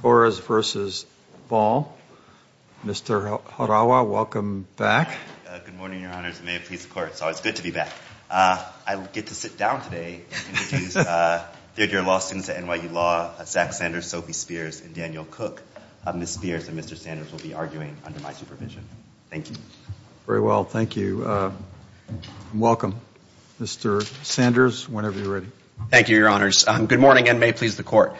Torres v. Ball, Mr. Harawa, welcome back. Good morning, your honors, and may it please the court. So it's good to be back. I get to sit down today and introduce third-year law students at NYU Law, Zach Sanders, Sophie Spears, and Daniel Cook. Ms. Spears and Mr. Sanders will be arguing under my supervision. Thank you. Very well, thank you. Welcome, Mr. Sanders, whenever you're ready. Thank you, your honors. Good morning, and may it please the court.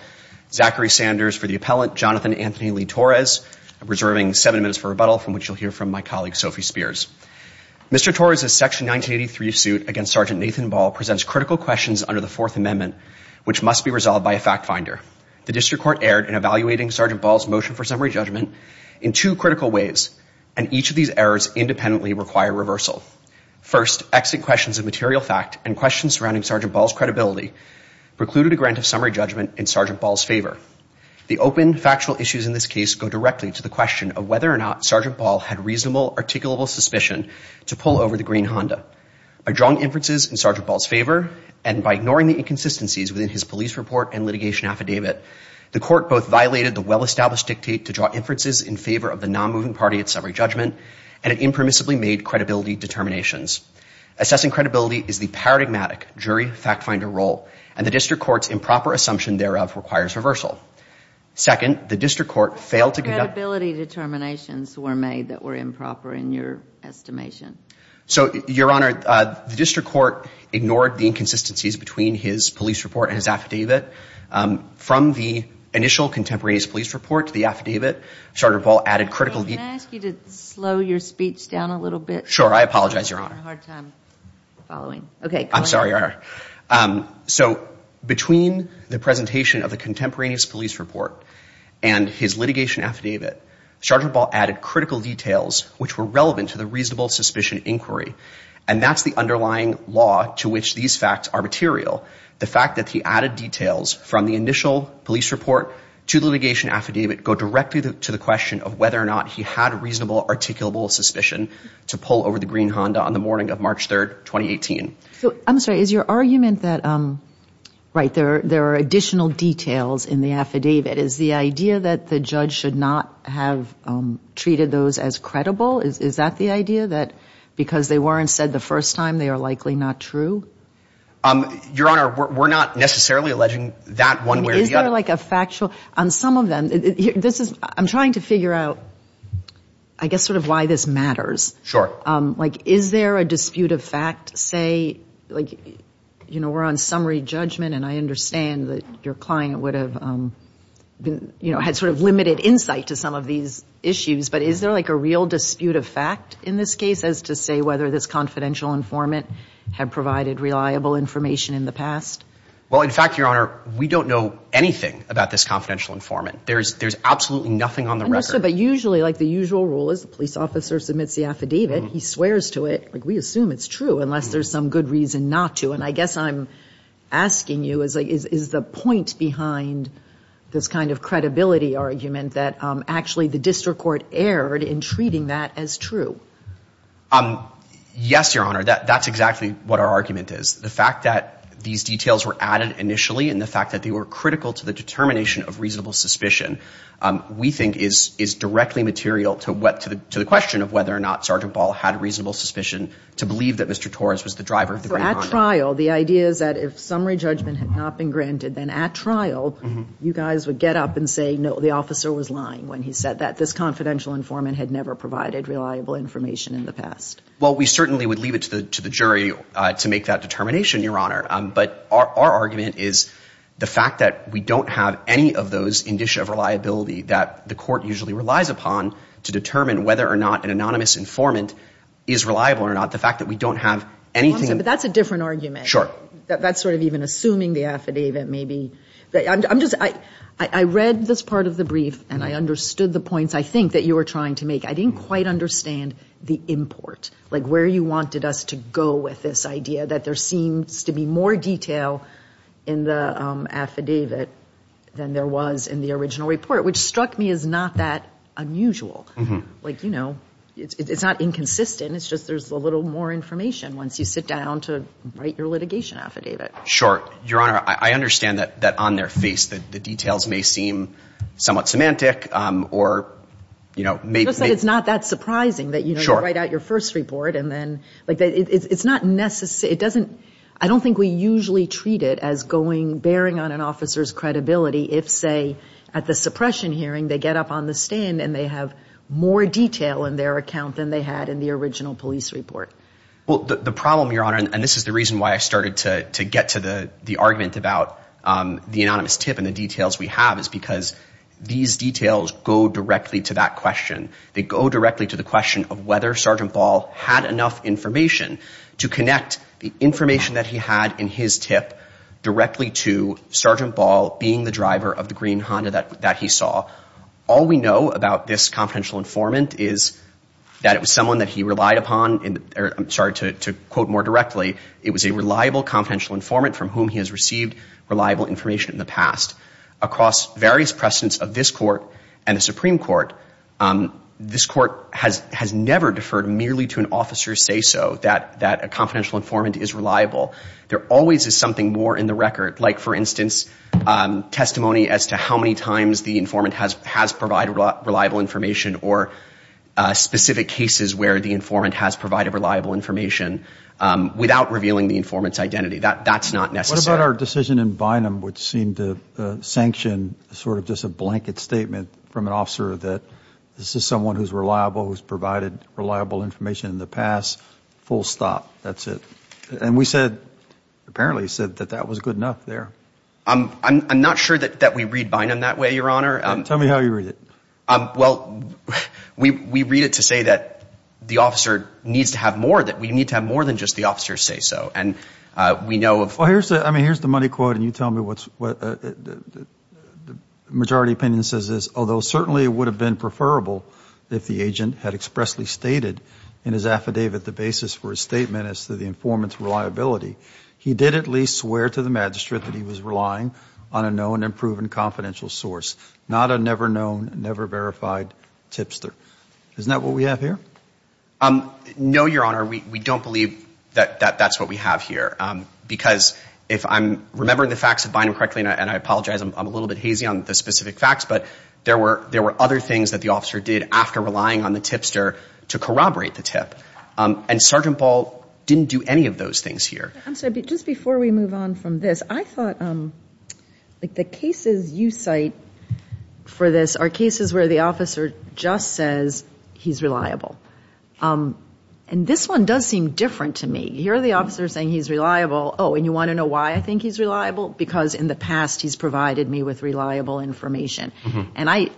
Zachary Sanders for the appellant, Jonathan Anthony Lee Torres. I'm reserving seven minutes for rebuttal, from which you'll hear from my colleague, Sophie Spears. Mr. Torres' Section 1983 suit against Sgt. Nathan Ball presents critical questions under the Fourth Amendment, which must be resolved by a fact finder. The district court erred in evaluating Sgt. Ball's motion for summary judgment in two critical ways, and each of these errors independently require reversal. First, exit questions of material fact and questions surrounding Sgt. Ball's credibility precluded a grant of summary judgment in Sgt. Ball's favor. The open, factual issues in this case go directly to the question of whether or not Sgt. Ball had reasonable, articulable suspicion to pull over the green Honda. By drawing inferences in Sgt. Ball's favor, and by ignoring the inconsistencies within his police report and litigation affidavit, the court both violated the well-established dictate to draw inferences in favor of the non-moving party at summary judgment, and it impermissibly made credibility determinations. Assessing credibility is the paradigmatic jury fact finder role, and the district court's improper assumption thereof requires reversal. Second, the district court failed to conduct. Credibility determinations were made that were improper in your estimation. So, Your Honor, the district court ignored the inconsistencies between his police report and his affidavit. From the initial contemporaneous police report to the affidavit, Sgt. Ball added critical. May I ask you to slow your speech down a little bit? Sure, I apologize, Your Honor. I'm having a hard time following. I'm sorry, Your Honor. So, between the presentation of the contemporaneous police report and his litigation affidavit, Sgt. Ball added critical details which were relevant to the reasonable suspicion inquiry, and that's the underlying law to which these facts are material. The fact that he added details from the initial police report to the litigation affidavit go directly to the question of whether or not he had reasonable articulable suspicion to pull over the green Honda on the morning of March 3, 2018. I'm sorry, is your argument that, right, there are additional details in the affidavit? Is the idea that the judge should not have treated those as credible, is that the idea? That because they weren't said the first time, they are likely not true? Your Honor, we're not necessarily alleging that one way or the other. Is there like a factual, on some of them, this is, I'm trying to figure out, I guess, sort of why this matters. Sure. Like, is there a dispute of fact, say, like, you know, we're on summary judgment, and I understand that your client would have, you know, had sort of limited insight to some of these issues, but is there like a real dispute of fact in this case as to say whether this confidential informant had provided reliable information in the past? Well, in fact, Your Honor, we don't know anything about this confidential informant. There's absolutely nothing on the record. But usually, like the usual rule is, the police officer submits the affidavit. He swears to it. Like, we assume it's true, unless there's some good reason not to. And I guess I'm asking you, is the point behind this kind of credibility argument that actually the district court erred in treating that as true? Yes, Your Honor. That's exactly what our argument is. The fact that these details were added initially and the fact that they were critical to the determination of reasonable suspicion, we think, is directly material to the question of whether or not Sergeant Ball had reasonable suspicion to believe that Mr. Torres was the driver of the grand condo. So at trial, the idea is that if summary judgment had not been granted, then at trial, you guys would get up and say, no, the officer was lying when he said that this confidential informant had never provided reliable information in the past. Well, we certainly would leave it to the jury to make that determination, Your Honor. But our argument is the fact that we don't have any of those indicia of reliability that the court usually relies upon to determine whether or not an anonymous informant is reliable or not, the fact that we don't have anything. But that's a different argument. Sure. That's sort of even assuming the affidavit maybe. I'm just – I read this part of the brief and I understood the points, I think, that you were trying to make. I didn't quite understand the import, like where you wanted us to go with this idea that there seems to be more detail in the affidavit than there was in the original report, which struck me as not that unusual. Like, you know, it's not inconsistent. It's just there's a little more information once you sit down to write your litigation affidavit. Sure. Your Honor, I understand that on their face the details may seem somewhat semantic or, you know, maybe – It's not that surprising that, you know, you write out your first report and then – like, it's not necessary – it doesn't – I don't think we usually treat it as going – bearing on an officer's credibility if, say, at the suppression hearing they get up on the stand and they have more detail in their account than they had in the original police report. Well, the problem, Your Honor – and this is the reason why I started to get to the argument about the anonymous tip and the details we have is because these details go directly to that question. They go directly to the question of whether Sergeant Ball had enough information to connect the information that he had in his tip directly to Sergeant Ball being the driver of the green Honda that he saw. All we know about this confidential informant is that it was someone that he relied upon – or, I'm sorry, to quote more directly, it was a reliable confidential informant from whom he has received reliable information in the past. Across various precedents of this Court and the Supreme Court, this Court has never deferred merely to an officer's say-so that a confidential informant is reliable. There always is something more in the record, like, for instance, testimony as to how many times the informant has provided reliable information or specific cases where the informant has provided reliable information without revealing the informant's identity. That's not necessary. What about our decision in Bynum which seemed to sanction sort of just a blanket statement from an officer that this is someone who's reliable, who's provided reliable information in the past, full stop, that's it? And we said – apparently said that that was good enough there. I'm not sure that we read Bynum that way, Your Honor. Tell me how you read it. Well, we read it to say that the officer needs to have more – that we need to have more than just the officer's say-so. And we know of – Well, here's the – I mean, here's the money quote, and you tell me what's – the majority opinion says this. Although certainly it would have been preferable if the agent had expressly stated in his affidavit the basis for his statement as to the informant's reliability, he did at least swear to the magistrate that he was relying on a known and proven confidential source, not a never-known, never-verified tipster. Isn't that what we have here? No, Your Honor. We don't believe that that's what we have here, because if I'm remembering the facts of Bynum correctly, and I apologize, I'm a little bit hazy on the specific facts, but there were other things that the officer did after relying on the tipster to corroborate the tip. And Sergeant Ball didn't do any of those things here. I'm sorry. Just before we move on from this, I thought, like, the cases you cite for this are cases where the officer just says he's reliable. And this one does seem different to me. Here the officer is saying he's reliable. Oh, and you want to know why I think he's reliable? Because in the past he's provided me with reliable information. And I,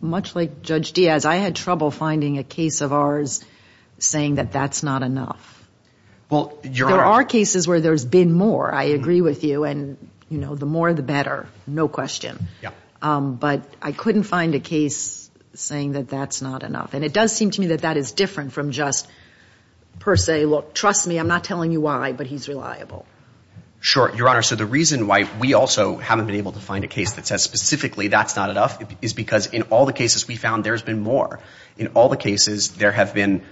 much like Judge Diaz, I had trouble finding a case of ours saying that that's not enough. Well, Your Honor. There are cases where there's been more. I agree with you. And, you know, the more the better. No question. Yeah. But I couldn't find a case saying that that's not enough. And it does seem to me that that is different from just per se. Well, trust me, I'm not telling you why, but he's reliable. Sure. Your Honor, so the reason why we also haven't been able to find a case that says specifically that's not enough is because in all the cases we found, there's been more. In all the cases, there have been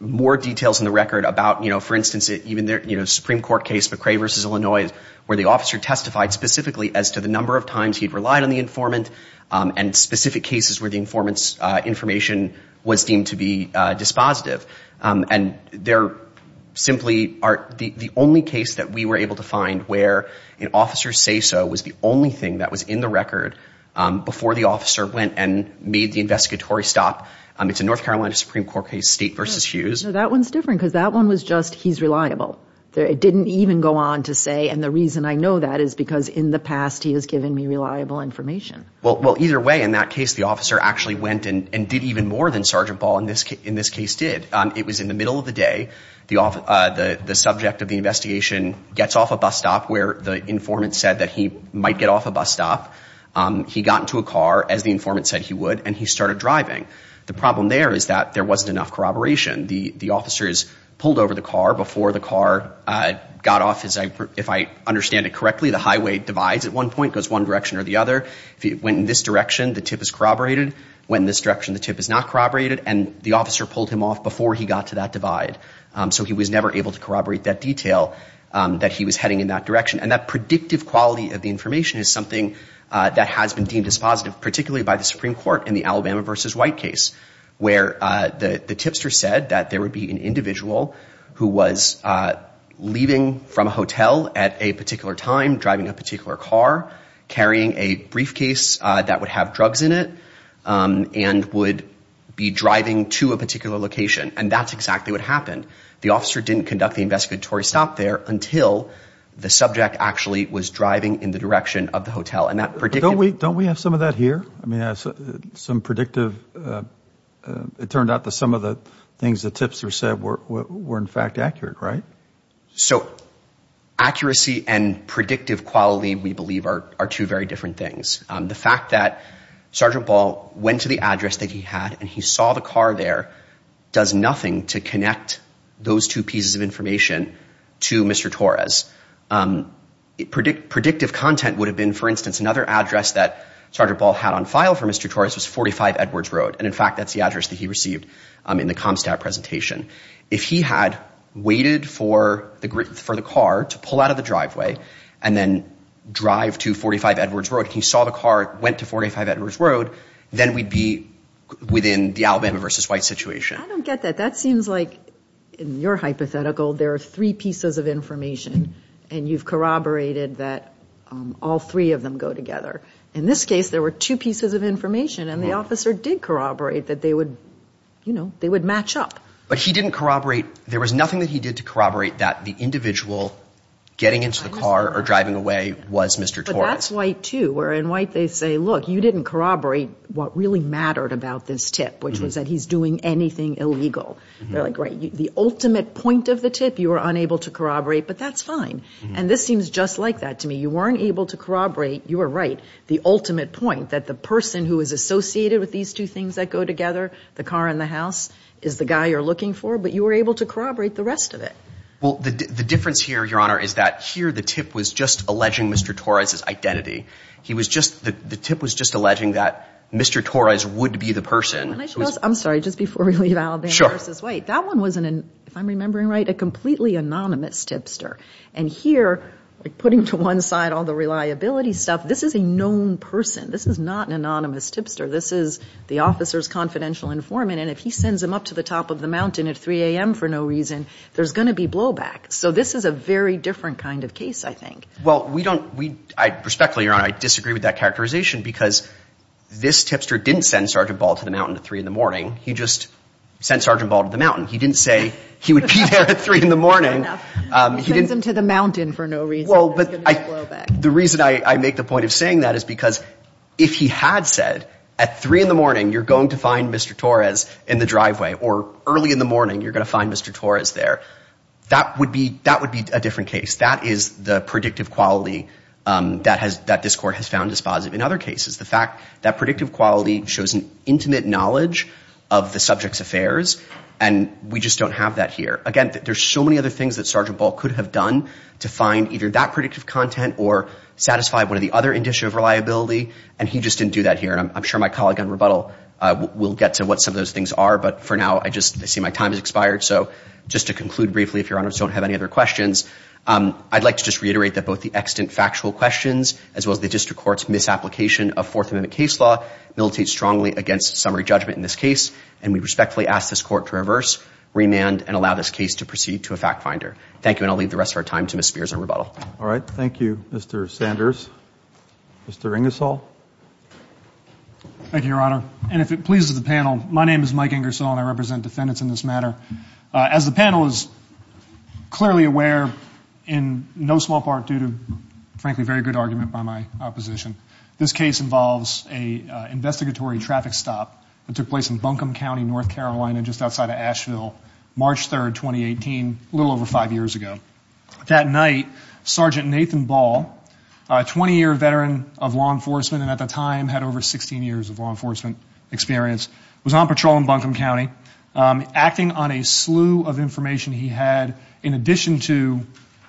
more details in the record about, you know, for instance, even the Supreme Court case, McCrae v. Illinois, where the officer testified specifically as to the number of times he'd relied on the informant and specific cases where the informant's information was deemed to be dispositive. And they're simply the only case that we were able to find where an officer's say-so was the only thing that was in the record before the officer went and made the investigatory stop. It's a North Carolina Supreme Court case, State v. Hughes. No, that one's different because that one was just he's reliable. It didn't even go on to say, and the reason I know that is because in the past, he has given me reliable information. Well, either way, in that case, the officer actually went and did even more than Sergeant Ball in this case did. It was in the middle of the day. The subject of the investigation gets off a bus stop where the informant said that he might get off a bus stop. He got into a car, as the informant said he would, and he started driving. The problem there is that there wasn't enough corroboration. The officer is pulled over the car before the car got off. If I understand it correctly, the highway divides at one point, goes one direction or the other. If he went in this direction, the tip is corroborated. Went in this direction, the tip is not corroborated, and the officer pulled him off before he got to that divide. So he was never able to corroborate that detail that he was heading in that direction. And that predictive quality of the information is something that has been deemed dispositive, particularly by the Supreme Court in the Alabama v. White case, where the tipster said that there would be an individual who was leaving from a hotel at a particular time, driving a particular car, carrying a briefcase that would have drugs in it, and would be driving to a particular location. And that's exactly what happened. The officer didn't conduct the investigatory stop there until the subject actually was driving in the direction of the hotel. Don't we have some of that here? It turned out that some of the things the tipster said were, in fact, accurate, right? So accuracy and predictive quality, we believe, are two very different things. The fact that Sergeant Ball went to the address that he had and he saw the car there does nothing to connect those two pieces of information to Mr. Torres. Predictive content would have been, for instance, another address that Sergeant Ball had on file for Mr. Torres was 45 Edwards Road. And, in fact, that's the address that he received in the ComStat presentation. If he had waited for the car to pull out of the driveway and then drive to 45 Edwards Road and he saw the car went to 45 Edwards Road, then we'd be within the Alabama v. White situation. I don't get that. That seems like, in your hypothetical, there are three pieces of information and you've corroborated that all three of them go together. In this case, there were two pieces of information, and the officer did corroborate that they would, you know, they would match up. But he didn't corroborate, there was nothing that he did to corroborate that the individual getting into the car or driving away was Mr. Torres. But that's White, too, where in White they say, look, you didn't corroborate what really mattered about this tip, which was that he's doing anything illegal. They're like, right, the ultimate point of the tip you were unable to corroborate, but that's fine. And this seems just like that to me. You weren't able to corroborate, you were right, the ultimate point, that the person who is associated with these two things that go together, the car and the house, is the guy you're looking for, but you were able to corroborate the rest of it. Well, the difference here, Your Honor, is that here the tip was just alleging Mr. Torres' identity. The tip was just alleging that Mr. Torres would be the person. I'm sorry, just before we leave Alabama v. White. Sure. That one was, if I'm remembering right, a completely anonymous tipster. And here, putting to one side all the reliability stuff, this is a known person. This is not an anonymous tipster. This is the officer's confidential informant, and if he sends him up to the top of the mountain at 3 a.m. for no reason, there's going to be blowback. So this is a very different kind of case, I think. Well, we don't—respectfully, Your Honor, I disagree with that characterization because this tipster didn't send Sergeant Ball to the mountain at 3 in the morning. He just sent Sergeant Ball to the mountain. He didn't say he would be there at 3 in the morning. He sends him to the mountain for no reason. Well, but I— There's going to be blowback. The reason I make the point of saying that is because if he had said, at 3 in the morning you're going to find Mr. Torres in the driveway or early in the morning you're going to find Mr. Torres there, that would be a different case. That is the predictive quality that this Court has found dispositive. In other cases, the fact that predictive quality shows an intimate knowledge of the subject's affairs, and we just don't have that here. Again, there's so many other things that Sergeant Ball could have done to find either that predictive content or satisfy one of the other indicia of reliability, and he just didn't do that here. I'm sure my colleague on rebuttal will get to what some of those things are, but for now I just—I see my time has expired, so just to conclude briefly, if Your Honors don't have any other questions, I'd like to just reiterate that both the extant factual questions as well as the District Court's misapplication of Fourth Amendment case law militate strongly against summary judgment in this case, and we respectfully ask this Court to reverse, remand, and allow this case to proceed to a fact finder. Thank you, and I'll leave the rest of our time to Ms. Spears on rebuttal. All right. Thank you, Mr. Sanders. Mr. Ingersoll. Thank you, Your Honor. And if it pleases the panel, my name is Mike Ingersoll, and I represent defendants in this matter. As the panel is clearly aware, in no small part due to, frankly, very good argument by my opposition, this case involves an investigatory traffic stop that took place in Buncombe County, North Carolina, just outside of Asheville, March 3, 2018, a little over five years ago. That night, Sergeant Nathan Ball, a 20-year veteran of law enforcement and at the time had over 16 years of law enforcement experience, was on patrol in Buncombe County, acting on a slew of information he had in addition to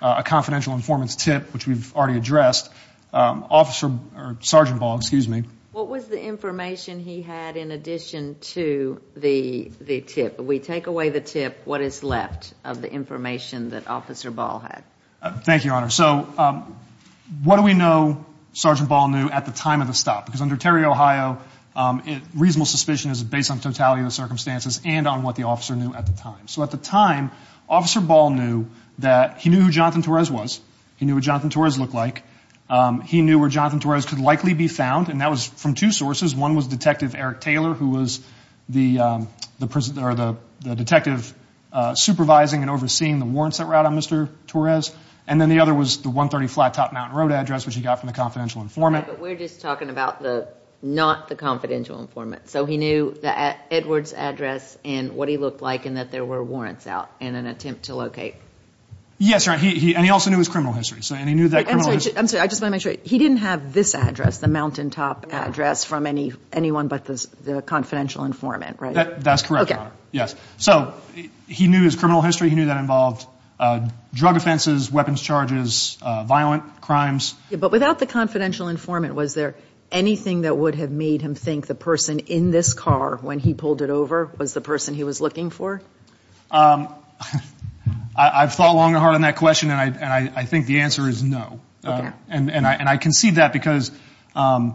a confidential informant's tip, which we've already addressed. Officer or Sergeant Ball, excuse me. What was the information he had in addition to the tip? We take away the tip, what is left of the information that Officer Ball had. Thank you, Your Honor. So what do we know Sergeant Ball knew at the time of the stop? Because under Terry, Ohio, reasonable suspicion is based on totality of the circumstances, and on what the officer knew at the time. So at the time, Officer Ball knew that he knew who Jonathan Torres was, he knew what Jonathan Torres looked like, he knew where Jonathan Torres could likely be found, and that was from two sources. One was Detective Eric Taylor, who was the detective supervising and overseeing the warrants that were out on Mr. Torres, and then the other was the 130 Flat Top Mountain Road address, which he got from the confidential informant. Right, but we're just talking about not the confidential informant. So he knew the Edwards address and what he looked like and that there were warrants out in an attempt to locate. Yes, Your Honor, and he also knew his criminal history. I'm sorry, I just want to make sure. He didn't have this address, the Mountaintop address, from anyone but the confidential informant, right? That's correct, Your Honor. So he knew his criminal history, he knew that involved drug offenses, weapons charges, violent crimes. But without the confidential informant, was there anything that would have made him think the person in this car when he pulled it over was the person he was looking for? I've thought long and hard on that question, and I think the answer is no. And I concede that because I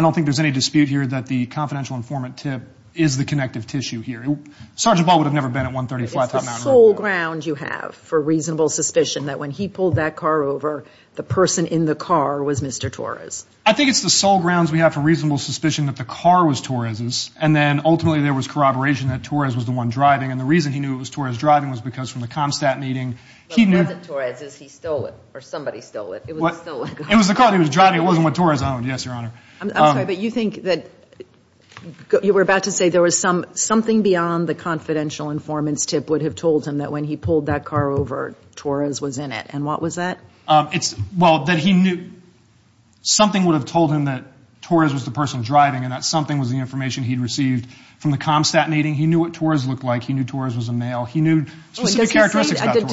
don't think there's any dispute here that the confidential informant tip is the connective tissue here. Sergeant Ball would have never been at 130 Flat Top Mountain Road. It's the sole ground you have for reasonable suspicion that when he pulled that car over, the person in the car was Mr. Torres. I think it's the sole grounds we have for reasonable suspicion that the car was Torres's, and then ultimately there was corroboration that Torres was the one driving, and the reason he knew it was Torres driving was because from the ComStat meeting he knew... It wasn't Torres's, he stole it, or somebody stole it. It was the car he was driving. It wasn't what Torres owned, yes, Your Honor. I'm sorry, but you think that you were about to say there was something beyond the confidential informant's tip would have told him that when he pulled that car over, Torres was in it, and what was that? Well, that he knew something would have told him that Torres was the person driving and that something was the information he'd received from the ComStat meeting. He knew what Torres looked like. He knew Torres was a male. He knew specific characteristics about Torres.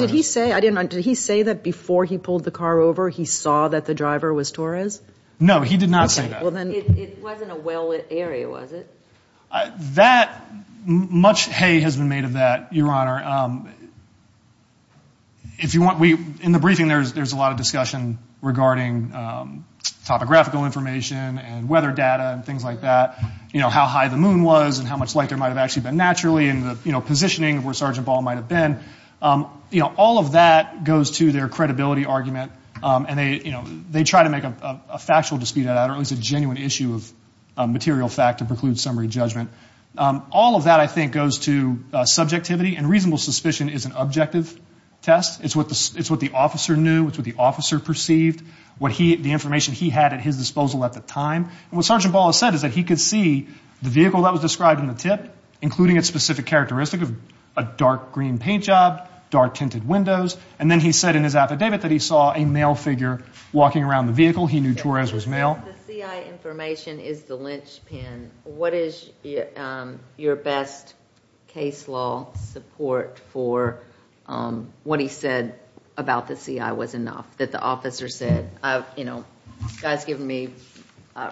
Did he say that before he pulled the car over, he saw that the driver was Torres? No, he did not say that. It wasn't a well-lit area, was it? Much hay has been made of that, Your Honor. In the briefing, there's a lot of discussion regarding topographical information and weather data and things like that, how high the moon was and how much light there might have actually been naturally and the positioning of where Sergeant Ball might have been. All of that goes to their credibility argument, and they try to make a factual dispute out of that or at least a genuine issue of material fact to preclude summary judgment. All of that, I think, goes to subjectivity, and reasonable suspicion is an objective test. It's what the officer knew. It's what the officer perceived, the information he had at his disposal at the time. What Sergeant Ball has said is that he could see the vehicle that was described in the tip, including its specific characteristic of a dark green paint job, dark tinted windows, and then he said in his affidavit that he saw a male figure walking around the vehicle. He knew Torres was male. The CI information is the linchpin. What is your best case law support for what he said about the CI was enough, that the officer said, you know, the guy's given me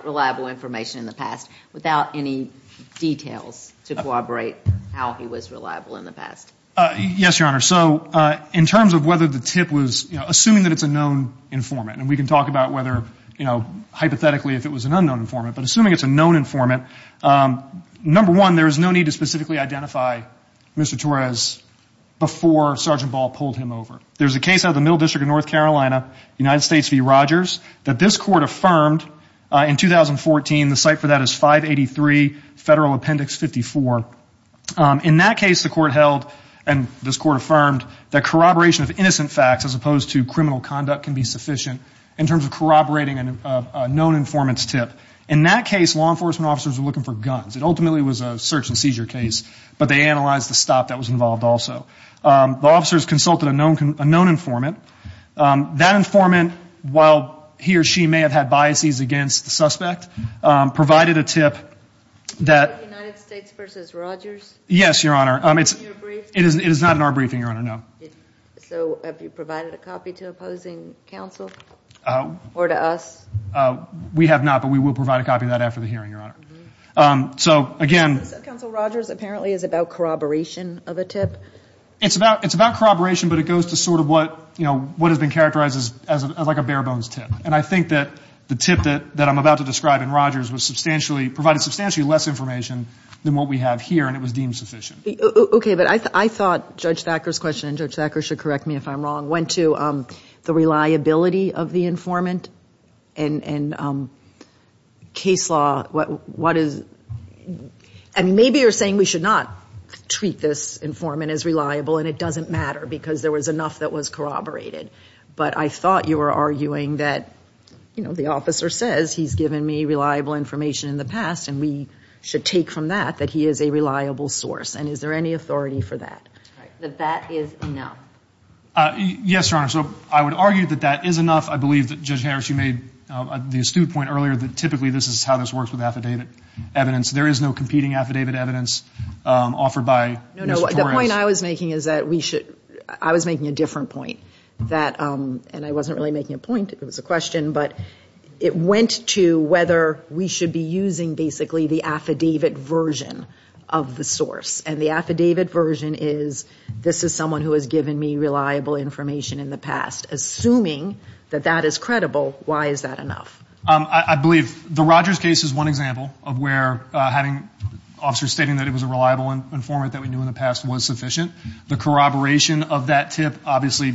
reliable information in the past, without any details to corroborate how he was reliable in the past? Yes, Your Honor. So in terms of whether the tip was, you know, assuming that it's a known informant, and we can talk about whether, you know, hypothetically if it was an unknown informant, but assuming it's a known informant, number one, there is no need to specifically identify Mr. Torres before Sergeant Ball pulled him over. There's a case out of the Middle District of North Carolina, United States v. Rogers, that this court affirmed in 2014. The cite for that is 583 Federal Appendix 54. In that case, the court held, and this court affirmed, that corroboration of innocent facts, as opposed to criminal conduct, can be sufficient in terms of corroborating a known informant's tip. In that case, law enforcement officers were looking for guns. It ultimately was a search and seizure case, but they analyzed the stop that was involved also. The officers consulted a known informant. That informant, while he or she may have had biases against the suspect, provided a tip that- United States v. Rogers? Yes, Your Honor. In your briefing? It is not in our briefing, Your Honor, no. So have you provided a copy to opposing counsel or to us? We have not, but we will provide a copy of that after the hearing, Your Honor. So, again- Counsel Rogers apparently is about corroboration of a tip. It's about corroboration, but it goes to sort of what has been characterized as like a bare-bones tip. And I think that the tip that I'm about to describe in Rogers was substantially- provided substantially less information than what we have here, and it was deemed sufficient. Okay, but I thought Judge Thacker's question, and Judge Thacker should correct me if I'm wrong, went to the reliability of the informant and case law. What is- And maybe you're saying we should not treat this informant as reliable, and it doesn't matter because there was enough that was corroborated. But I thought you were arguing that, you know, the officer says, he's given me reliable information in the past, and we should take from that that he is a reliable source, and is there any authority for that? That that is enough. Yes, Your Honor. So I would argue that that is enough. I believe that Judge Harris, you made the astute point earlier that typically this is how this works with affidavit evidence. There is no competing affidavit evidence offered by Mr. Torrance. No, no. The point I was making is that we should-I was making a different point. And I wasn't really making a point. It was a question. But it went to whether we should be using basically the affidavit version of the source. And the affidavit version is this is someone who has given me reliable information in the past. Assuming that that is credible, why is that enough? I believe the Rogers case is one example of where having officers stating that it was a reliable informant that we knew in the past was sufficient. The corroboration of that tip, obviously,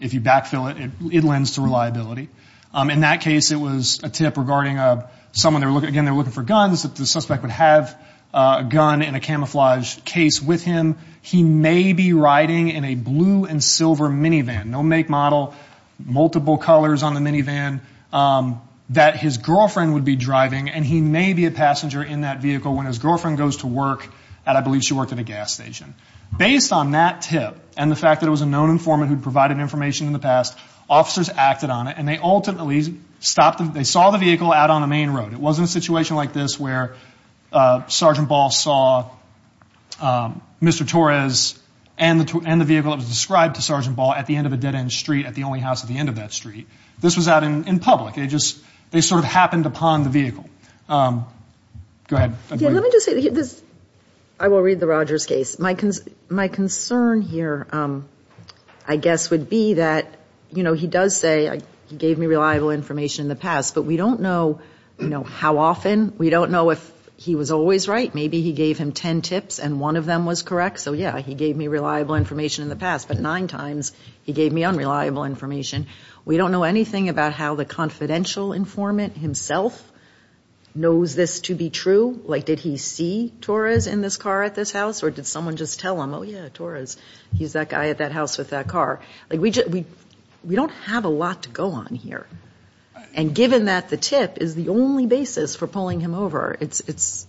if you backfill it, it lends to reliability. In that case, it was a tip regarding someone, again, they were looking for guns, that the suspect would have a gun in a camouflage case with him. He may be riding in a blue and silver minivan, no make, model, multiple colors on the minivan, that his girlfriend would be driving. And he may be a passenger in that vehicle when his girlfriend goes to work at, I believe, she worked at a gas station. Based on that tip and the fact that it was a known informant who had provided information in the past, officers acted on it, and they ultimately stopped them. They saw the vehicle out on the main road. It wasn't a situation like this where Sergeant Ball saw Mr. Torres and the vehicle that was described to Sergeant Ball at the end of a dead end street, at the only house at the end of that street. This was out in public. They sort of happened upon the vehicle. Go ahead. Let me just say this. I will read the Rogers case. My concern here, I guess, would be that, you know, he does say he gave me reliable information in the past, but we don't know, you know, how often. We don't know if he was always right. Maybe he gave him ten tips and one of them was correct. So, yeah, he gave me reliable information in the past, but nine times he gave me unreliable information. We don't know anything about how the confidential informant himself knows this to be true. Like, did he see Torres in this car at this house or did someone just tell him, oh, yeah, Torres. He's that guy at that house with that car. Like, we don't have a lot to go on here. And given that the tip is the only basis for pulling him over, it's ‑‑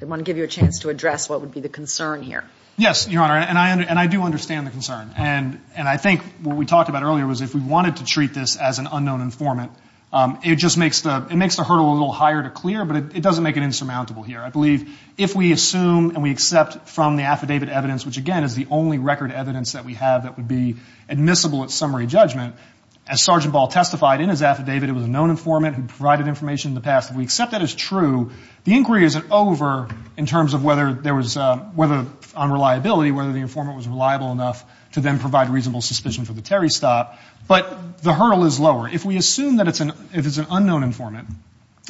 I want to give you a chance to address what would be the concern here. Yes, Your Honor, and I do understand the concern. And I think what we talked about earlier was if we wanted to treat this as an unknown informant, it just makes the hurdle a little higher to clear, but it doesn't make it insurmountable here. I believe if we assume and we accept from the affidavit evidence, which, again, is the only record evidence that we have that would be admissible at summary judgment, as Sergeant Ball testified in his affidavit, it was a known informant who provided information in the past. If we accept that as true, the inquiry isn't over in terms of whether there was ‑‑ on reliability, whether the informant was reliable enough to then provide reasonable suspicion for the Terry stop. But the hurdle is lower. If we assume that it's an unknown informant,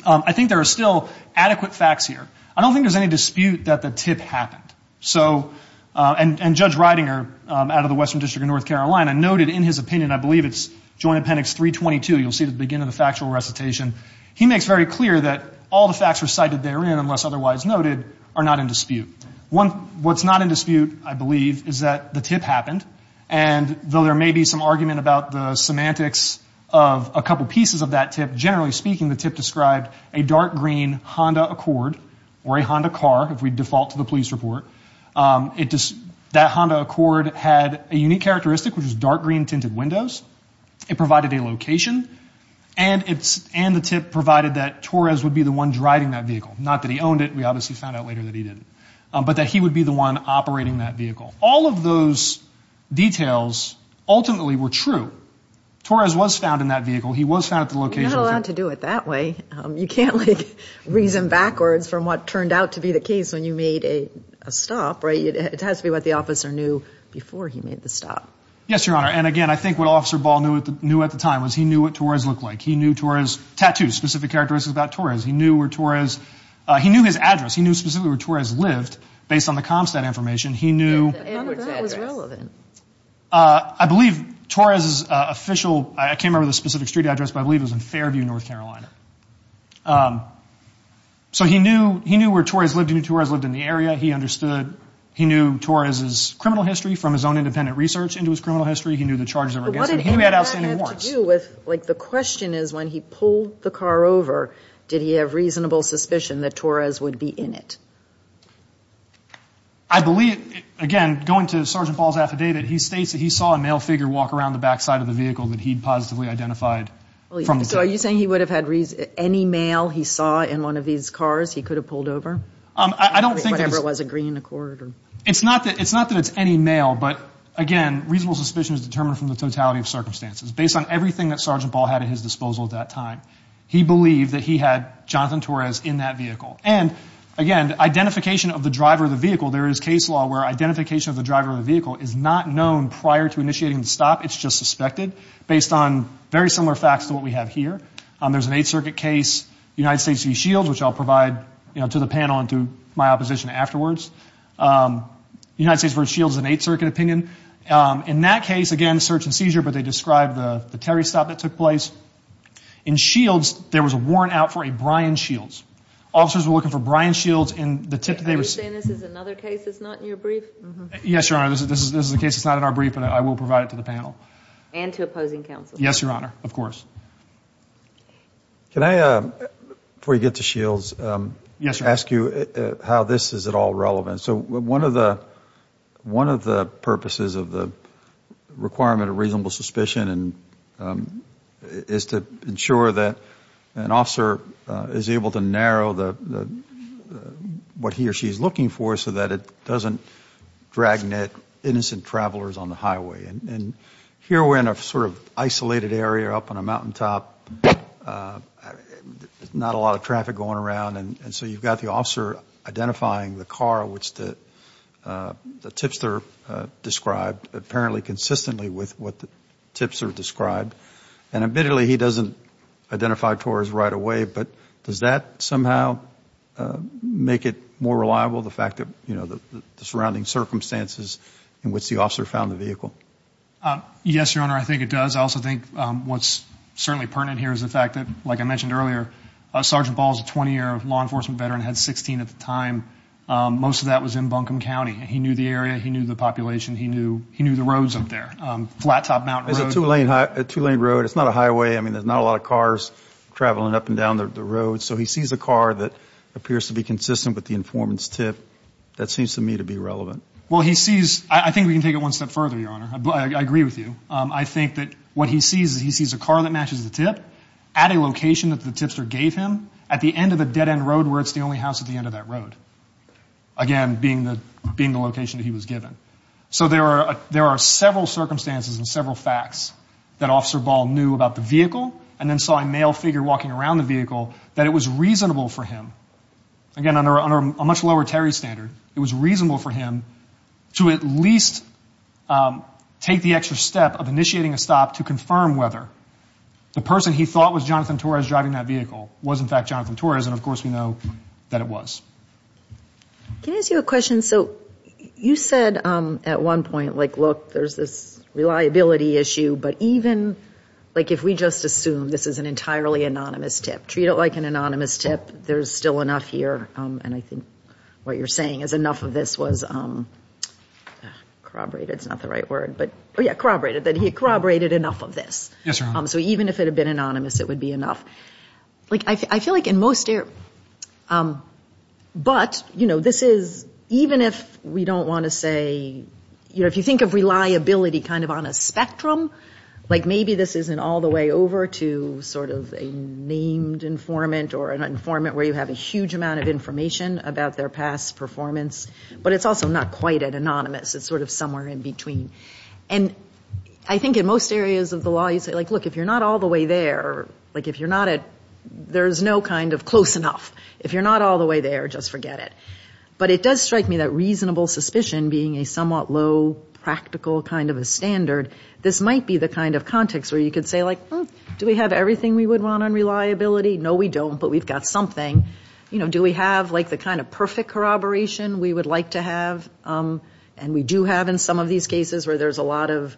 I think there are still adequate facts here. I don't think there's any dispute that the tip happened. So ‑‑ and Judge Reidinger, out of the Western District of North Carolina, noted in his opinion, I believe it's Joint Appendix 322, you'll see at the beginning of the factual recitation, he makes very clear that all the facts recited therein, unless otherwise noted, are not in dispute. What's not in dispute, I believe, is that the tip happened, and though there may be some argument about the semantics of a couple pieces of that tip, generally speaking, the tip described a dark green Honda Accord, or a Honda car, if we default to the police report. That Honda Accord had a unique characteristic, which was dark green tinted windows. It provided a location, and the tip provided that Torres would be the one driving that vehicle. Not that he owned it, we obviously found out later that he didn't. But that he would be the one operating that vehicle. All of those details ultimately were true. Torres was found in that vehicle. He was found at the location. You're not allowed to do it that way. You can't reason backwards from what turned out to be the case when you made a stop, right? It has to be what the officer knew before he made the stop. Yes, Your Honor, and again, I think what Officer Ball knew at the time was he knew what Torres looked like. He knew Torres' tattoos, specific characteristics about Torres. He knew where Torres ‑‑ he knew his address. He knew specifically where Torres lived, based on the CompStat information. He knew ‑‑ None of that was relevant. I believe Torres' official ‑‑ I can't remember the specific street address, but I believe it was in Fairview, North Carolina. So he knew where Torres lived. He knew Torres lived in the area. He understood ‑‑ he knew Torres' criminal history from his own independent research into his criminal history. He knew the charges that were against him. He had outstanding warrants. But what did any of that have to do with, like, the question is when he pulled the car over, did he have reasonable suspicion that Torres would be in it? I believe, again, going to Sergeant Ball's affidavit, he states that he saw a male figure walk around the back side of the vehicle that he'd positively identified from the vehicle. So are you saying he would have had any male he saw in one of these cars he could have pulled over? I don't think ‑‑ Whatever it was, a green Accord or ‑‑ It's not that it's any male, but, again, reasonable suspicion is determined from the totality of circumstances. Based on everything that Sergeant Ball had at his disposal at that time, he believed that he had Jonathan Torres in that vehicle. And, again, identification of the driver of the vehicle, there is case law where identification of the driver of the vehicle is not known prior to initiating the stop. It's just suspected based on very similar facts to what we have here. There's an Eighth Circuit case, United States v. Shields, which I'll provide to the panel and to my opposition afterwards. United States v. Shields is an Eighth Circuit opinion. In that case, again, search and seizure, but they describe the Terry stop that took place. In Shields, there was a warrant out for a Brian Shields. Officers were looking for Brian Shields. Are you saying this is another case that's not in your brief? Yes, Your Honor. This is a case that's not in our brief, and I will provide it to the panel. And to opposing counsel. Yes, Your Honor. Of course. Can I, before you get to Shields, ask you how this is at all relevant? So one of the purposes of the requirement of reasonable suspicion is to ensure that an officer is able to narrow what he or she is looking for so that it doesn't dragnet innocent travelers on the highway. Here we're in a sort of isolated area up on a mountaintop. There's not a lot of traffic going around, and so you've got the officer identifying the car which the tipster described, apparently consistently with what the tipster described. And admittedly, he doesn't identify towards right away, but does that somehow make it more reliable, the fact that the surrounding circumstances in which the officer found the vehicle? Yes, Your Honor, I think it does. I also think what's certainly pertinent here is the fact that, like I mentioned earlier, Sergeant Ball is a 20-year law enforcement veteran, had 16 at the time. Most of that was in Buncombe County. He knew the area. He knew the population. He knew the roads up there, flattop mountain roads. It's a two-lane road. It's not a highway. I mean, there's not a lot of cars traveling up and down the road. So he sees a car that appears to be consistent with the informant's tip. That seems to me to be relevant. Well, he sees – I think we can take it one step further, Your Honor. I agree with you. I think that what he sees is he sees a car that matches the tip at a location that the tipster gave him at the end of a dead-end road where it's the only house at the end of that road, again, being the location that he was given. So there are several circumstances and several facts that Officer Ball knew about the vehicle and then saw a male figure walking around the vehicle that it was reasonable for him, again, under a much lower Terry standard, it was reasonable for him to at least take the extra step of initiating a stop to confirm whether the person he thought was Jonathan Torres driving that vehicle was, in fact, Jonathan Torres. And, of course, we know that it was. Can I ask you a question? So you said at one point, like, look, there's this reliability issue. But even, like, if we just assume this is an entirely anonymous tip, treat it like an anonymous tip, there's still enough here. And I think what you're saying is enough of this was corroborated. It's not the right word. Yeah, corroborated, that he corroborated enough of this. Yes, Your Honor. So even if it had been anonymous, it would be enough. Like, I feel like in most areas. But, you know, this is, even if we don't want to say, you know, if you think of reliability kind of on a spectrum, like maybe this isn't all the way over to sort of a named informant or an informant where you have a huge amount of information about their past performance. But it's also not quite an anonymous. It's sort of somewhere in between. And I think in most areas of the law you say, like, look, if you're not all the way there, like if you're not at, there's no kind of close enough. If you're not all the way there, just forget it. But it does strike me that reasonable suspicion being a somewhat low practical kind of a standard, this might be the kind of context where you could say, like, do we have everything we would want on reliability? No, we don't, but we've got something. You know, do we have, like, the kind of perfect corroboration we would like to have? And we do have in some of these cases where there's a lot of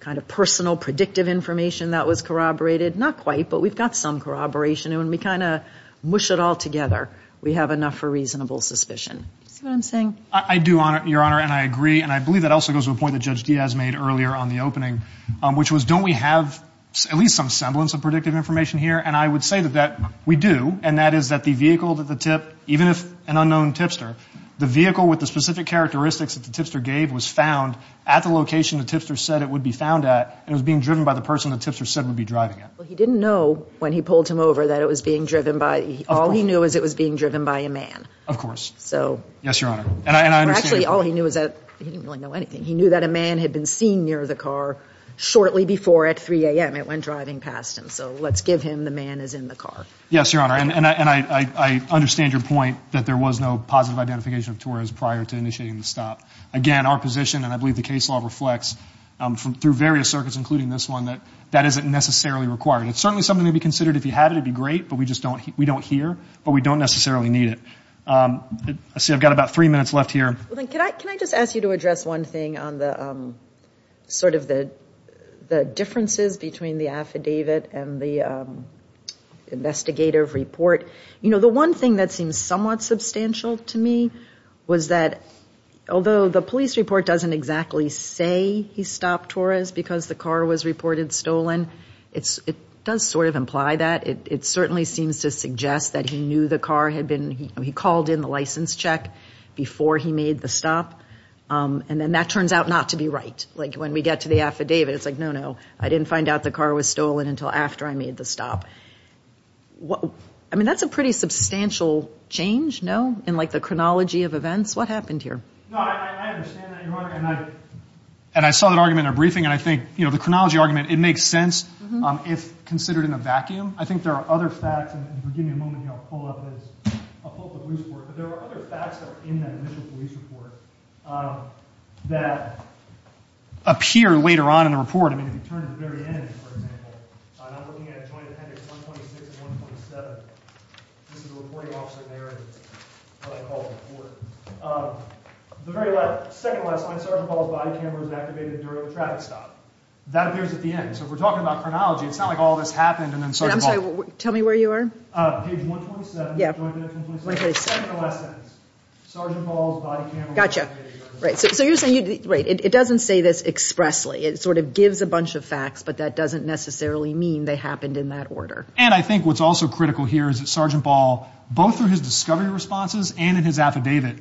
kind of personal predictive information that was corroborated. Not quite, but we've got some corroboration. And when we kind of mush it all together, we have enough for reasonable suspicion. Do you see what I'm saying? I do, Your Honor, and I agree. And I believe that also goes to a point that Judge Diaz made earlier on the opening, which was don't we have at least some semblance of predictive information here? But even if an unknown tipster, the vehicle with the specific characteristics that the tipster gave was found at the location the tipster said it would be found at, and it was being driven by the person the tipster said would be driving it. Well, he didn't know when he pulled him over that it was being driven by, all he knew was it was being driven by a man. Of course. Yes, Your Honor. Actually, all he knew was that, he didn't really know anything, he knew that a man had been seen near the car shortly before at 3 a.m. It went driving past him, so let's give him the man is in the car. Yes, Your Honor, and I understand your point that there was no positive identification of Torres prior to initiating the stop. Again, our position, and I believe the case law reflects through various circuits, including this one, that that isn't necessarily required. It's certainly something to be considered. If you had it, it would be great, but we don't hear, but we don't necessarily need it. I see I've got about three minutes left here. Can I just ask you to address one thing on sort of the differences between the affidavit and the investigative report? You know, the one thing that seems somewhat substantial to me was that, although the police report doesn't exactly say he stopped Torres because the car was reported stolen, it does sort of imply that. It certainly seems to suggest that he knew the car had been, he called in the license check before he made the stop, and then that turns out not to be right. Like when we get to the affidavit, it's like, no, no, I didn't find out the car was stolen until after I made the stop. I mean, that's a pretty substantial change, no, in like the chronology of events. What happened here? No, I understand that, Your Honor, and I saw that argument in a briefing, and I think, you know, the chronology argument, it makes sense if considered in a vacuum. I think there are other facts, and if you'll give me a moment here, I'll pull up the police report, but there are other facts that are in that initial police report that appear later on in the report. I mean, if you turn to the very end, for example, and I'm looking at Joint Appendix 126 and 127, this is the reporting officer there and what I call the report. The very second to last line, Sergeant Ball's body camera was activated during the traffic stop. That appears at the end. So if we're talking about chronology, it's not like all this happened and then Sergeant Ball. I'm sorry, tell me where you are? Page 127, Joint Appendix 127. 127. Second to last sentence, Sergeant Ball's body camera was activated during the traffic stop. Gotcha. Right, so you're saying, right, it doesn't say this expressly. It sort of gives a bunch of facts, but that doesn't necessarily mean they happened in that order. And I think what's also critical here is that Sergeant Ball, both through his discovery responses and in his affidavit,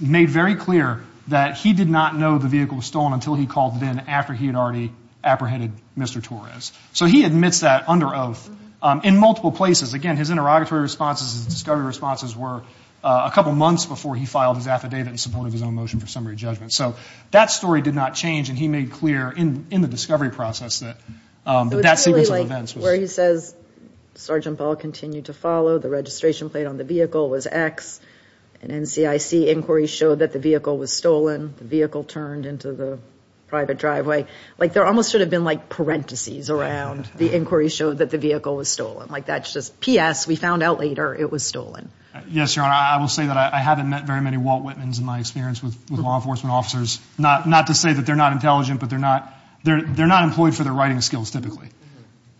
made very clear that he did not know the vehicle was stolen until he called VIN after he had already apprehended Mr. Torres. So he admits that under oath in multiple places. Again, his interrogatory responses, his discovery responses, were a couple months before he filed his affidavit in support of his own motion for summary judgment. So that story did not change, and he made clear in the discovery process that that sequence of events was. So it's really like where he says Sergeant Ball continued to follow. The registration plate on the vehicle was X, and NCIC inquiries showed that the vehicle was stolen. The vehicle turned into the private driveway. Like there almost should have been like parentheses around the inquiries showed that the vehicle was stolen. Like that's just P.S. We found out later it was stolen. Yes, Your Honor, I will say that I haven't met very many Walt Whitmans in my experience with law enforcement officers. Not to say that they're not intelligent, but they're not employed for their writing skills typically.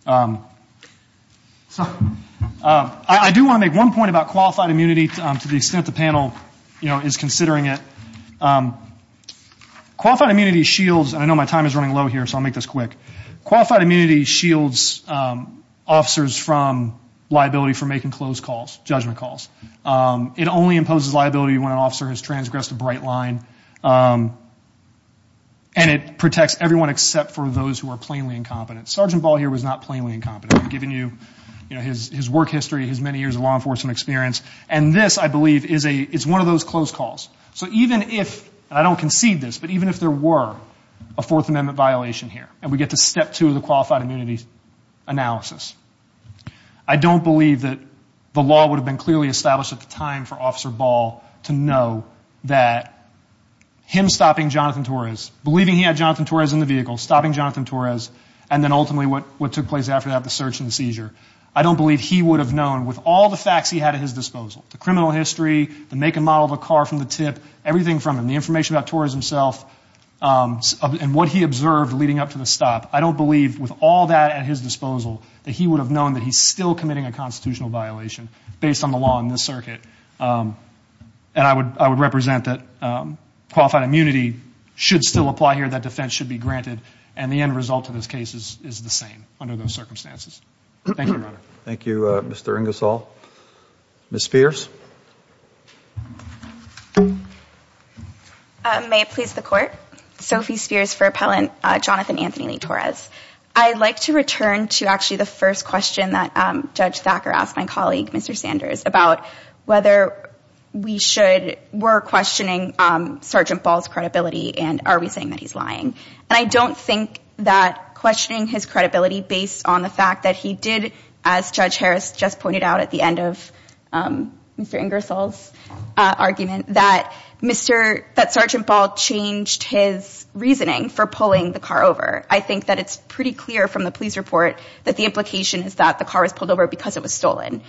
So I do want to make one point about qualified immunity to the extent the panel, you know, is considering it. Qualified immunity shields, and I know my time is running low here, so I'll make this quick. Qualified immunity shields officers from liability for making closed calls, judgment calls. It only imposes liability when an officer has transgressed a bright line, and it protects everyone except for those who are plainly incompetent. Sergeant Ball here was not plainly incompetent. I'm giving you, you know, his work history, his many years of law enforcement experience, and this, I believe, is one of those closed calls. So even if, and I don't concede this, but even if there were a Fourth Amendment violation here and we get to step two of the qualified immunity analysis, I don't believe that the law would have been clearly established at the time for Officer Ball to know that him stopping Jonathan Torres, believing he had Jonathan Torres in the vehicle, stopping Jonathan Torres, and then ultimately what took place after that, the search and seizure. I don't believe he would have known, with all the facts he had at his disposal, the criminal history, the make and model of the car from the tip, everything from him, the information about Torres himself, and what he observed leading up to the stop. I don't believe, with all that at his disposal, that he would have known that he's still committing a constitutional violation based on the law in this circuit. And I would represent that qualified immunity should still apply here, that defense should be granted, and the end result of this case is the same under those circumstances. Thank you, Your Honor. Thank you, Mr. Ingersoll. Ms. Spears? May it please the Court? Sophie Spears for Appellant Jonathan Anthony Lee Torres. I'd like to return to actually the first question that Judge Thacker asked my colleague, Mr. Sanders, about whether we were questioning Sergeant Ball's credibility and are we saying that he's lying. And I don't think that questioning his credibility based on the fact that he did, as Judge Harris just pointed out at the end of Mr. Ingersoll's argument, that Sergeant Ball changed his reasoning for pulling the car over. I think that it's pretty clear from the police report that the implication is that the car was pulled over because it was stolen.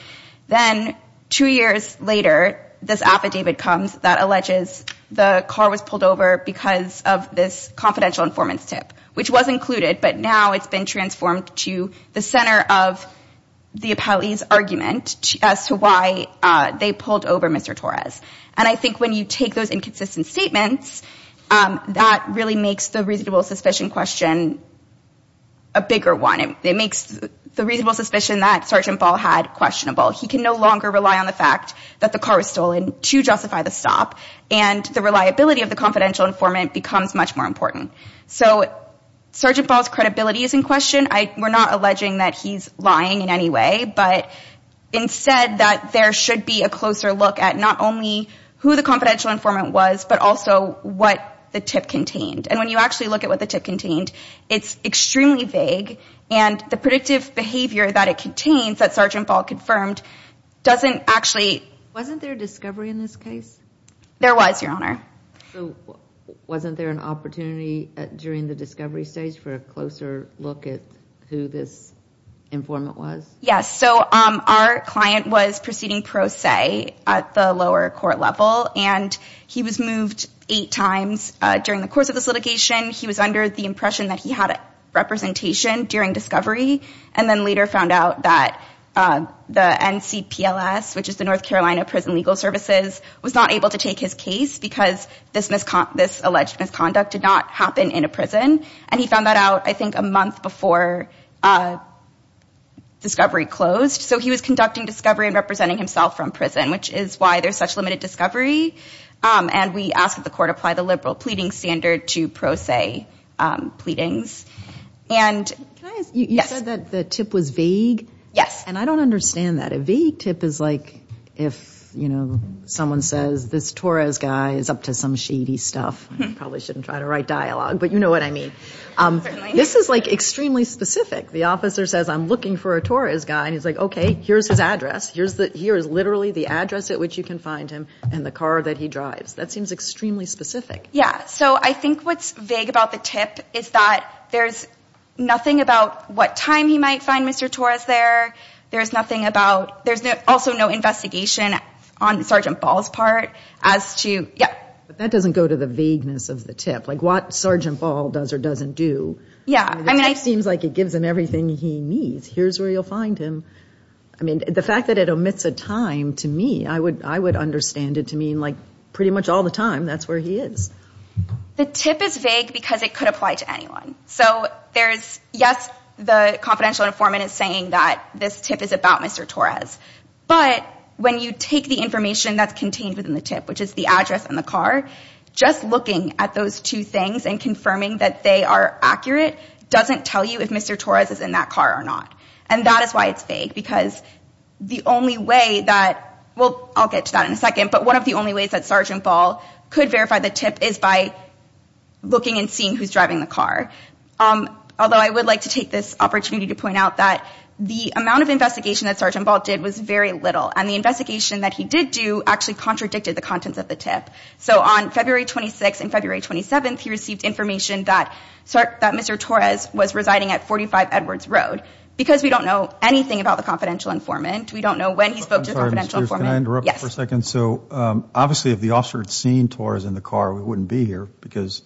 Then two years later, this affidavit comes that alleges the car was pulled over because of this confidential informant's tip, which was included, but now it's been transformed to the center of the appellee's argument as to why they pulled over Mr. Torres. And I think when you take those inconsistent statements, that really makes the reasonable suspicion question a bigger one. It makes the reasonable suspicion that Sergeant Ball had questionable. He can no longer rely on the fact that the car was stolen to justify the stop, and the reliability of the confidential informant becomes much more important. So Sergeant Ball's credibility is in question. We're not alleging that he's lying in any way, but instead that there should be a closer look at not only who the confidential informant was, but also what the tip contained. And when you actually look at what the tip contained, it's extremely vague, and the predictive behavior that it contains that Sergeant Ball confirmed doesn't actually... Wasn't there a discovery in this case? There was, Your Honor. So wasn't there an opportunity during the discovery stage for a closer look at who this informant was? Yes, so our client was proceeding pro se at the lower court level, and he was moved eight times during the course of this litigation. He was under the impression that he had representation during discovery, and then later found out that the NCPLS, which is the North Carolina Prison Legal Services, was not able to take his case because this alleged misconduct did not happen in a prison. And he found that out, I think, a month before discovery closed. So he was conducting discovery and representing himself from prison, which is why there's such limited discovery. And we asked that the court apply the liberal pleading standard to pro se pleadings. You said that the tip was vague? Yes. And I don't understand that. A vague tip is like if, you know, someone says, this Torres guy is up to some shady stuff. I probably shouldn't try to write dialogue, but you know what I mean. This is, like, extremely specific. The officer says, I'm looking for a Torres guy, and he's like, okay, here's his address. Here is literally the address at which you can find him and the car that he drives. That seems extremely specific. Yeah. So I think what's vague about the tip is that there's nothing about what time he might find Mr. Torres there. There's nothing about, there's also no investigation on Sergeant Ball's part as to, yeah. But that doesn't go to the vagueness of the tip, like what Sergeant Ball does or doesn't do. Yeah. I mean, it seems like it gives him everything he needs. Here's where you'll find him. I mean, the fact that it omits a time, to me, I would understand it to mean, like, pretty much all the time, that's where he is. The tip is vague because it could apply to anyone. So there's, yes, the confidential informant is saying that this tip is about Mr. Torres. But when you take the information that's contained within the tip, which is the address and the car, just looking at those two things and confirming that they are accurate doesn't tell you if Mr. Torres is in that car or not. And that is why it's vague, because the only way that, well, I'll get to that in a second, but one of the only ways that Sergeant Ball could verify the tip is by looking and seeing who's driving the car. Although I would like to take this opportunity to point out that the amount of investigation that Sergeant Ball did was very little. And the investigation that he did do actually contradicted the contents of the tip. So on February 26th and February 27th, he received information that Mr. Torres was residing at 45 Edwards Road. Because we don't know anything about the confidential informant. We don't know when he spoke to the confidential informant. Can I interrupt for a second? Yes. So obviously if the officer had seen Torres in the car, we wouldn't be here because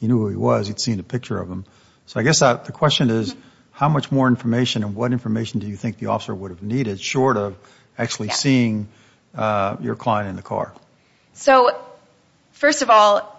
he knew who he was. He'd seen a picture of him. So I guess the question is how much more information and what information do you think the officer would have needed, short of actually seeing your client in the car? So first of all,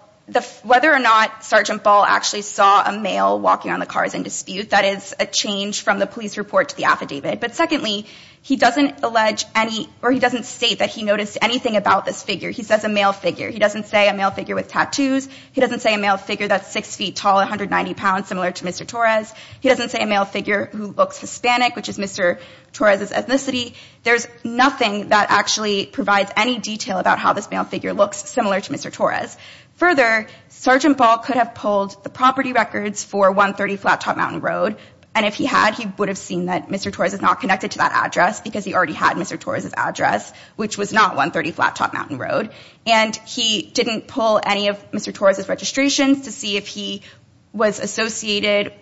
whether or not Sergeant Ball actually saw a male walking around the cars in dispute, that is a change from the police report to the affidavit. But secondly, he doesn't allege any or he doesn't state that he noticed anything about this figure. He says a male figure. He doesn't say a male figure with tattoos. He doesn't say a male figure that's 6 feet tall, 190 pounds, similar to Mr. Torres. He doesn't say a male figure who looks Hispanic, which is Mr. Torres' ethnicity. There's nothing that actually provides any detail about how this male figure looks similar to Mr. Torres. Further, Sergeant Ball could have pulled the property records for 130 Flattop Mountain Road, and if he had, he would have seen that Mr. Torres is not connected to that address because he already had Mr. Torres' address, which was not 130 Flattop Mountain Road. And he didn't pull any of Mr. Torres' registrations to see if he was associated.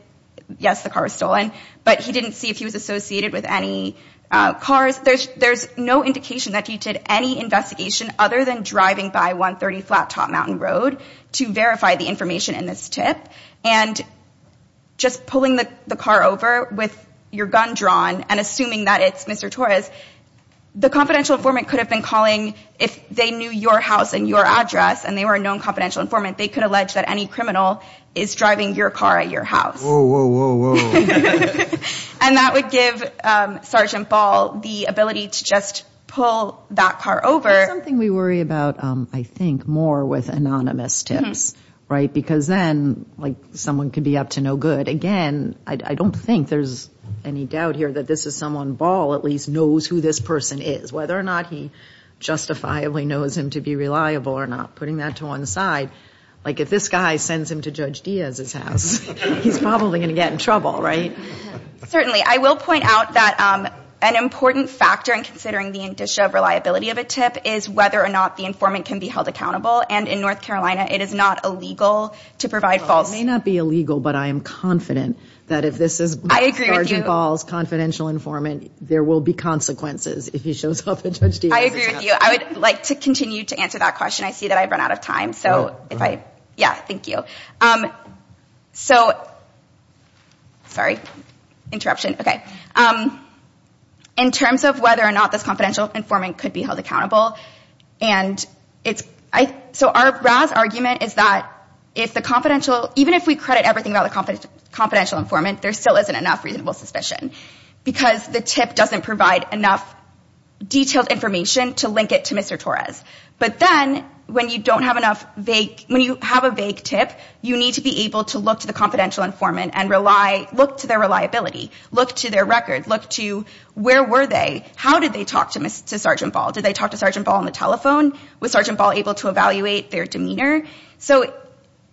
Yes, the car was stolen, but he didn't see if he was associated with any cars. There's no indication that he did any investigation other than driving by 130 Flattop Mountain Road to verify the information in this tip, and just pulling the car over with your gun drawn and assuming that it's Mr. Torres, the confidential informant could have been calling if they knew your house and your address, and they were a known confidential informant, they could allege that any criminal is driving your car at your house. Whoa, whoa, whoa, whoa. And that would give Sergeant Ball the ability to just pull that car over. There's something we worry about, I think, more with anonymous tips, right? Because then, like, someone could be up to no good. Again, I don't think there's any doubt here that this is someone Ball at least knows who this person is, whether or not he justifiably knows him to be reliable or not. Putting that to one side, like, if this guy sends him to Judge Diaz's house, he's probably going to get in trouble, right? Certainly. I will point out that an important factor in considering the indicia of reliability of a tip is whether or not the informant can be held accountable, and in North Carolina, it is not illegal to provide false. It may not be illegal, but I am confident that if this is Sergeant Ball's confidential informant, there will be consequences if he shows up at Judge Diaz's house. I agree with you. I would like to continue to answer that question. I see that I've run out of time. No, go ahead. Yeah, thank you. So... Sorry. Interruption. Okay. In terms of whether or not this confidential informant could be held accountable, and it's... So our RAS argument is that if the confidential... Even if we credit everything about the confidential informant, there still isn't enough reasonable suspicion because the tip doesn't provide enough detailed information to link it to Mr. Torres. But then, when you have a vague tip, you need to be able to look to the confidential informant and look to their reliability, look to their record, look to where were they, how did they talk to Sergeant Ball? Did they talk to Sergeant Ball on the telephone? Was Sergeant Ball able to evaluate their demeanor? So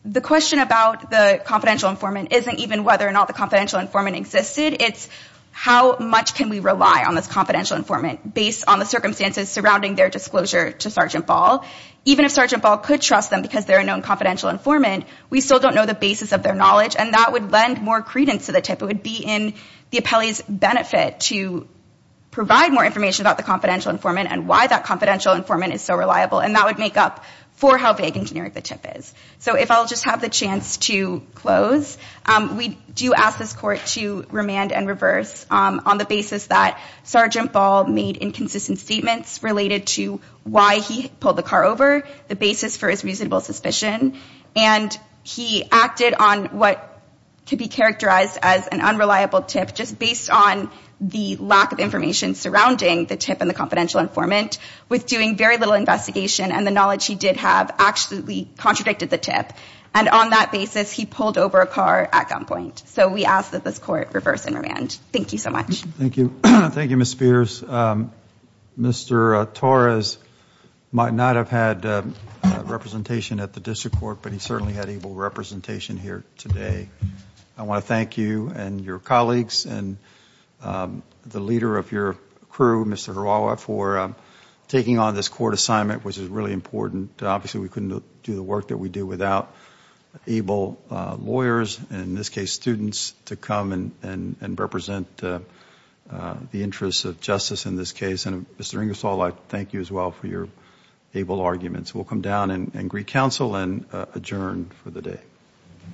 the question about the confidential informant isn't even whether or not the confidential informant existed. It's how much can we rely on this confidential informant based on the circumstances surrounding their disclosure to Sergeant Ball? Even if Sergeant Ball could trust them because they're a known confidential informant, we still don't know the basis of their knowledge, and that would lend more credence to the tip. It would be in the appellee's benefit to provide more information about the confidential informant and why that confidential informant is so reliable, and that would make up for how vague and generic the tip is. So if I'll just have the chance to close, we do ask this Court to remand and reverse on the basis that Sergeant Ball made inconsistent statements related to why he pulled the car over, the basis for his reasonable suspicion, and he acted on what could be characterized as an unreliable tip just based on the lack of information surrounding the tip and the confidential informant with doing very little investigation and the knowledge he did have actually contradicted the tip. And on that basis, he pulled over a car at gunpoint. So we ask that this Court reverse and remand. Thank you so much. Thank you. Thank you, Ms. Spears. Mr. Torres might not have had representation at the District Court, but he certainly had able representation here today. I want to thank you and your colleagues and the leader of your crew, Mr. Harawa, for taking on this Court assignment, which is really important. Obviously, we couldn't do the work that we do without able lawyers, in this case students, to come and represent the interests of justice in this case. And, Mr. Ingersoll, I thank you as well for your able arguments. We'll come down and greet counsel and adjourn for the day.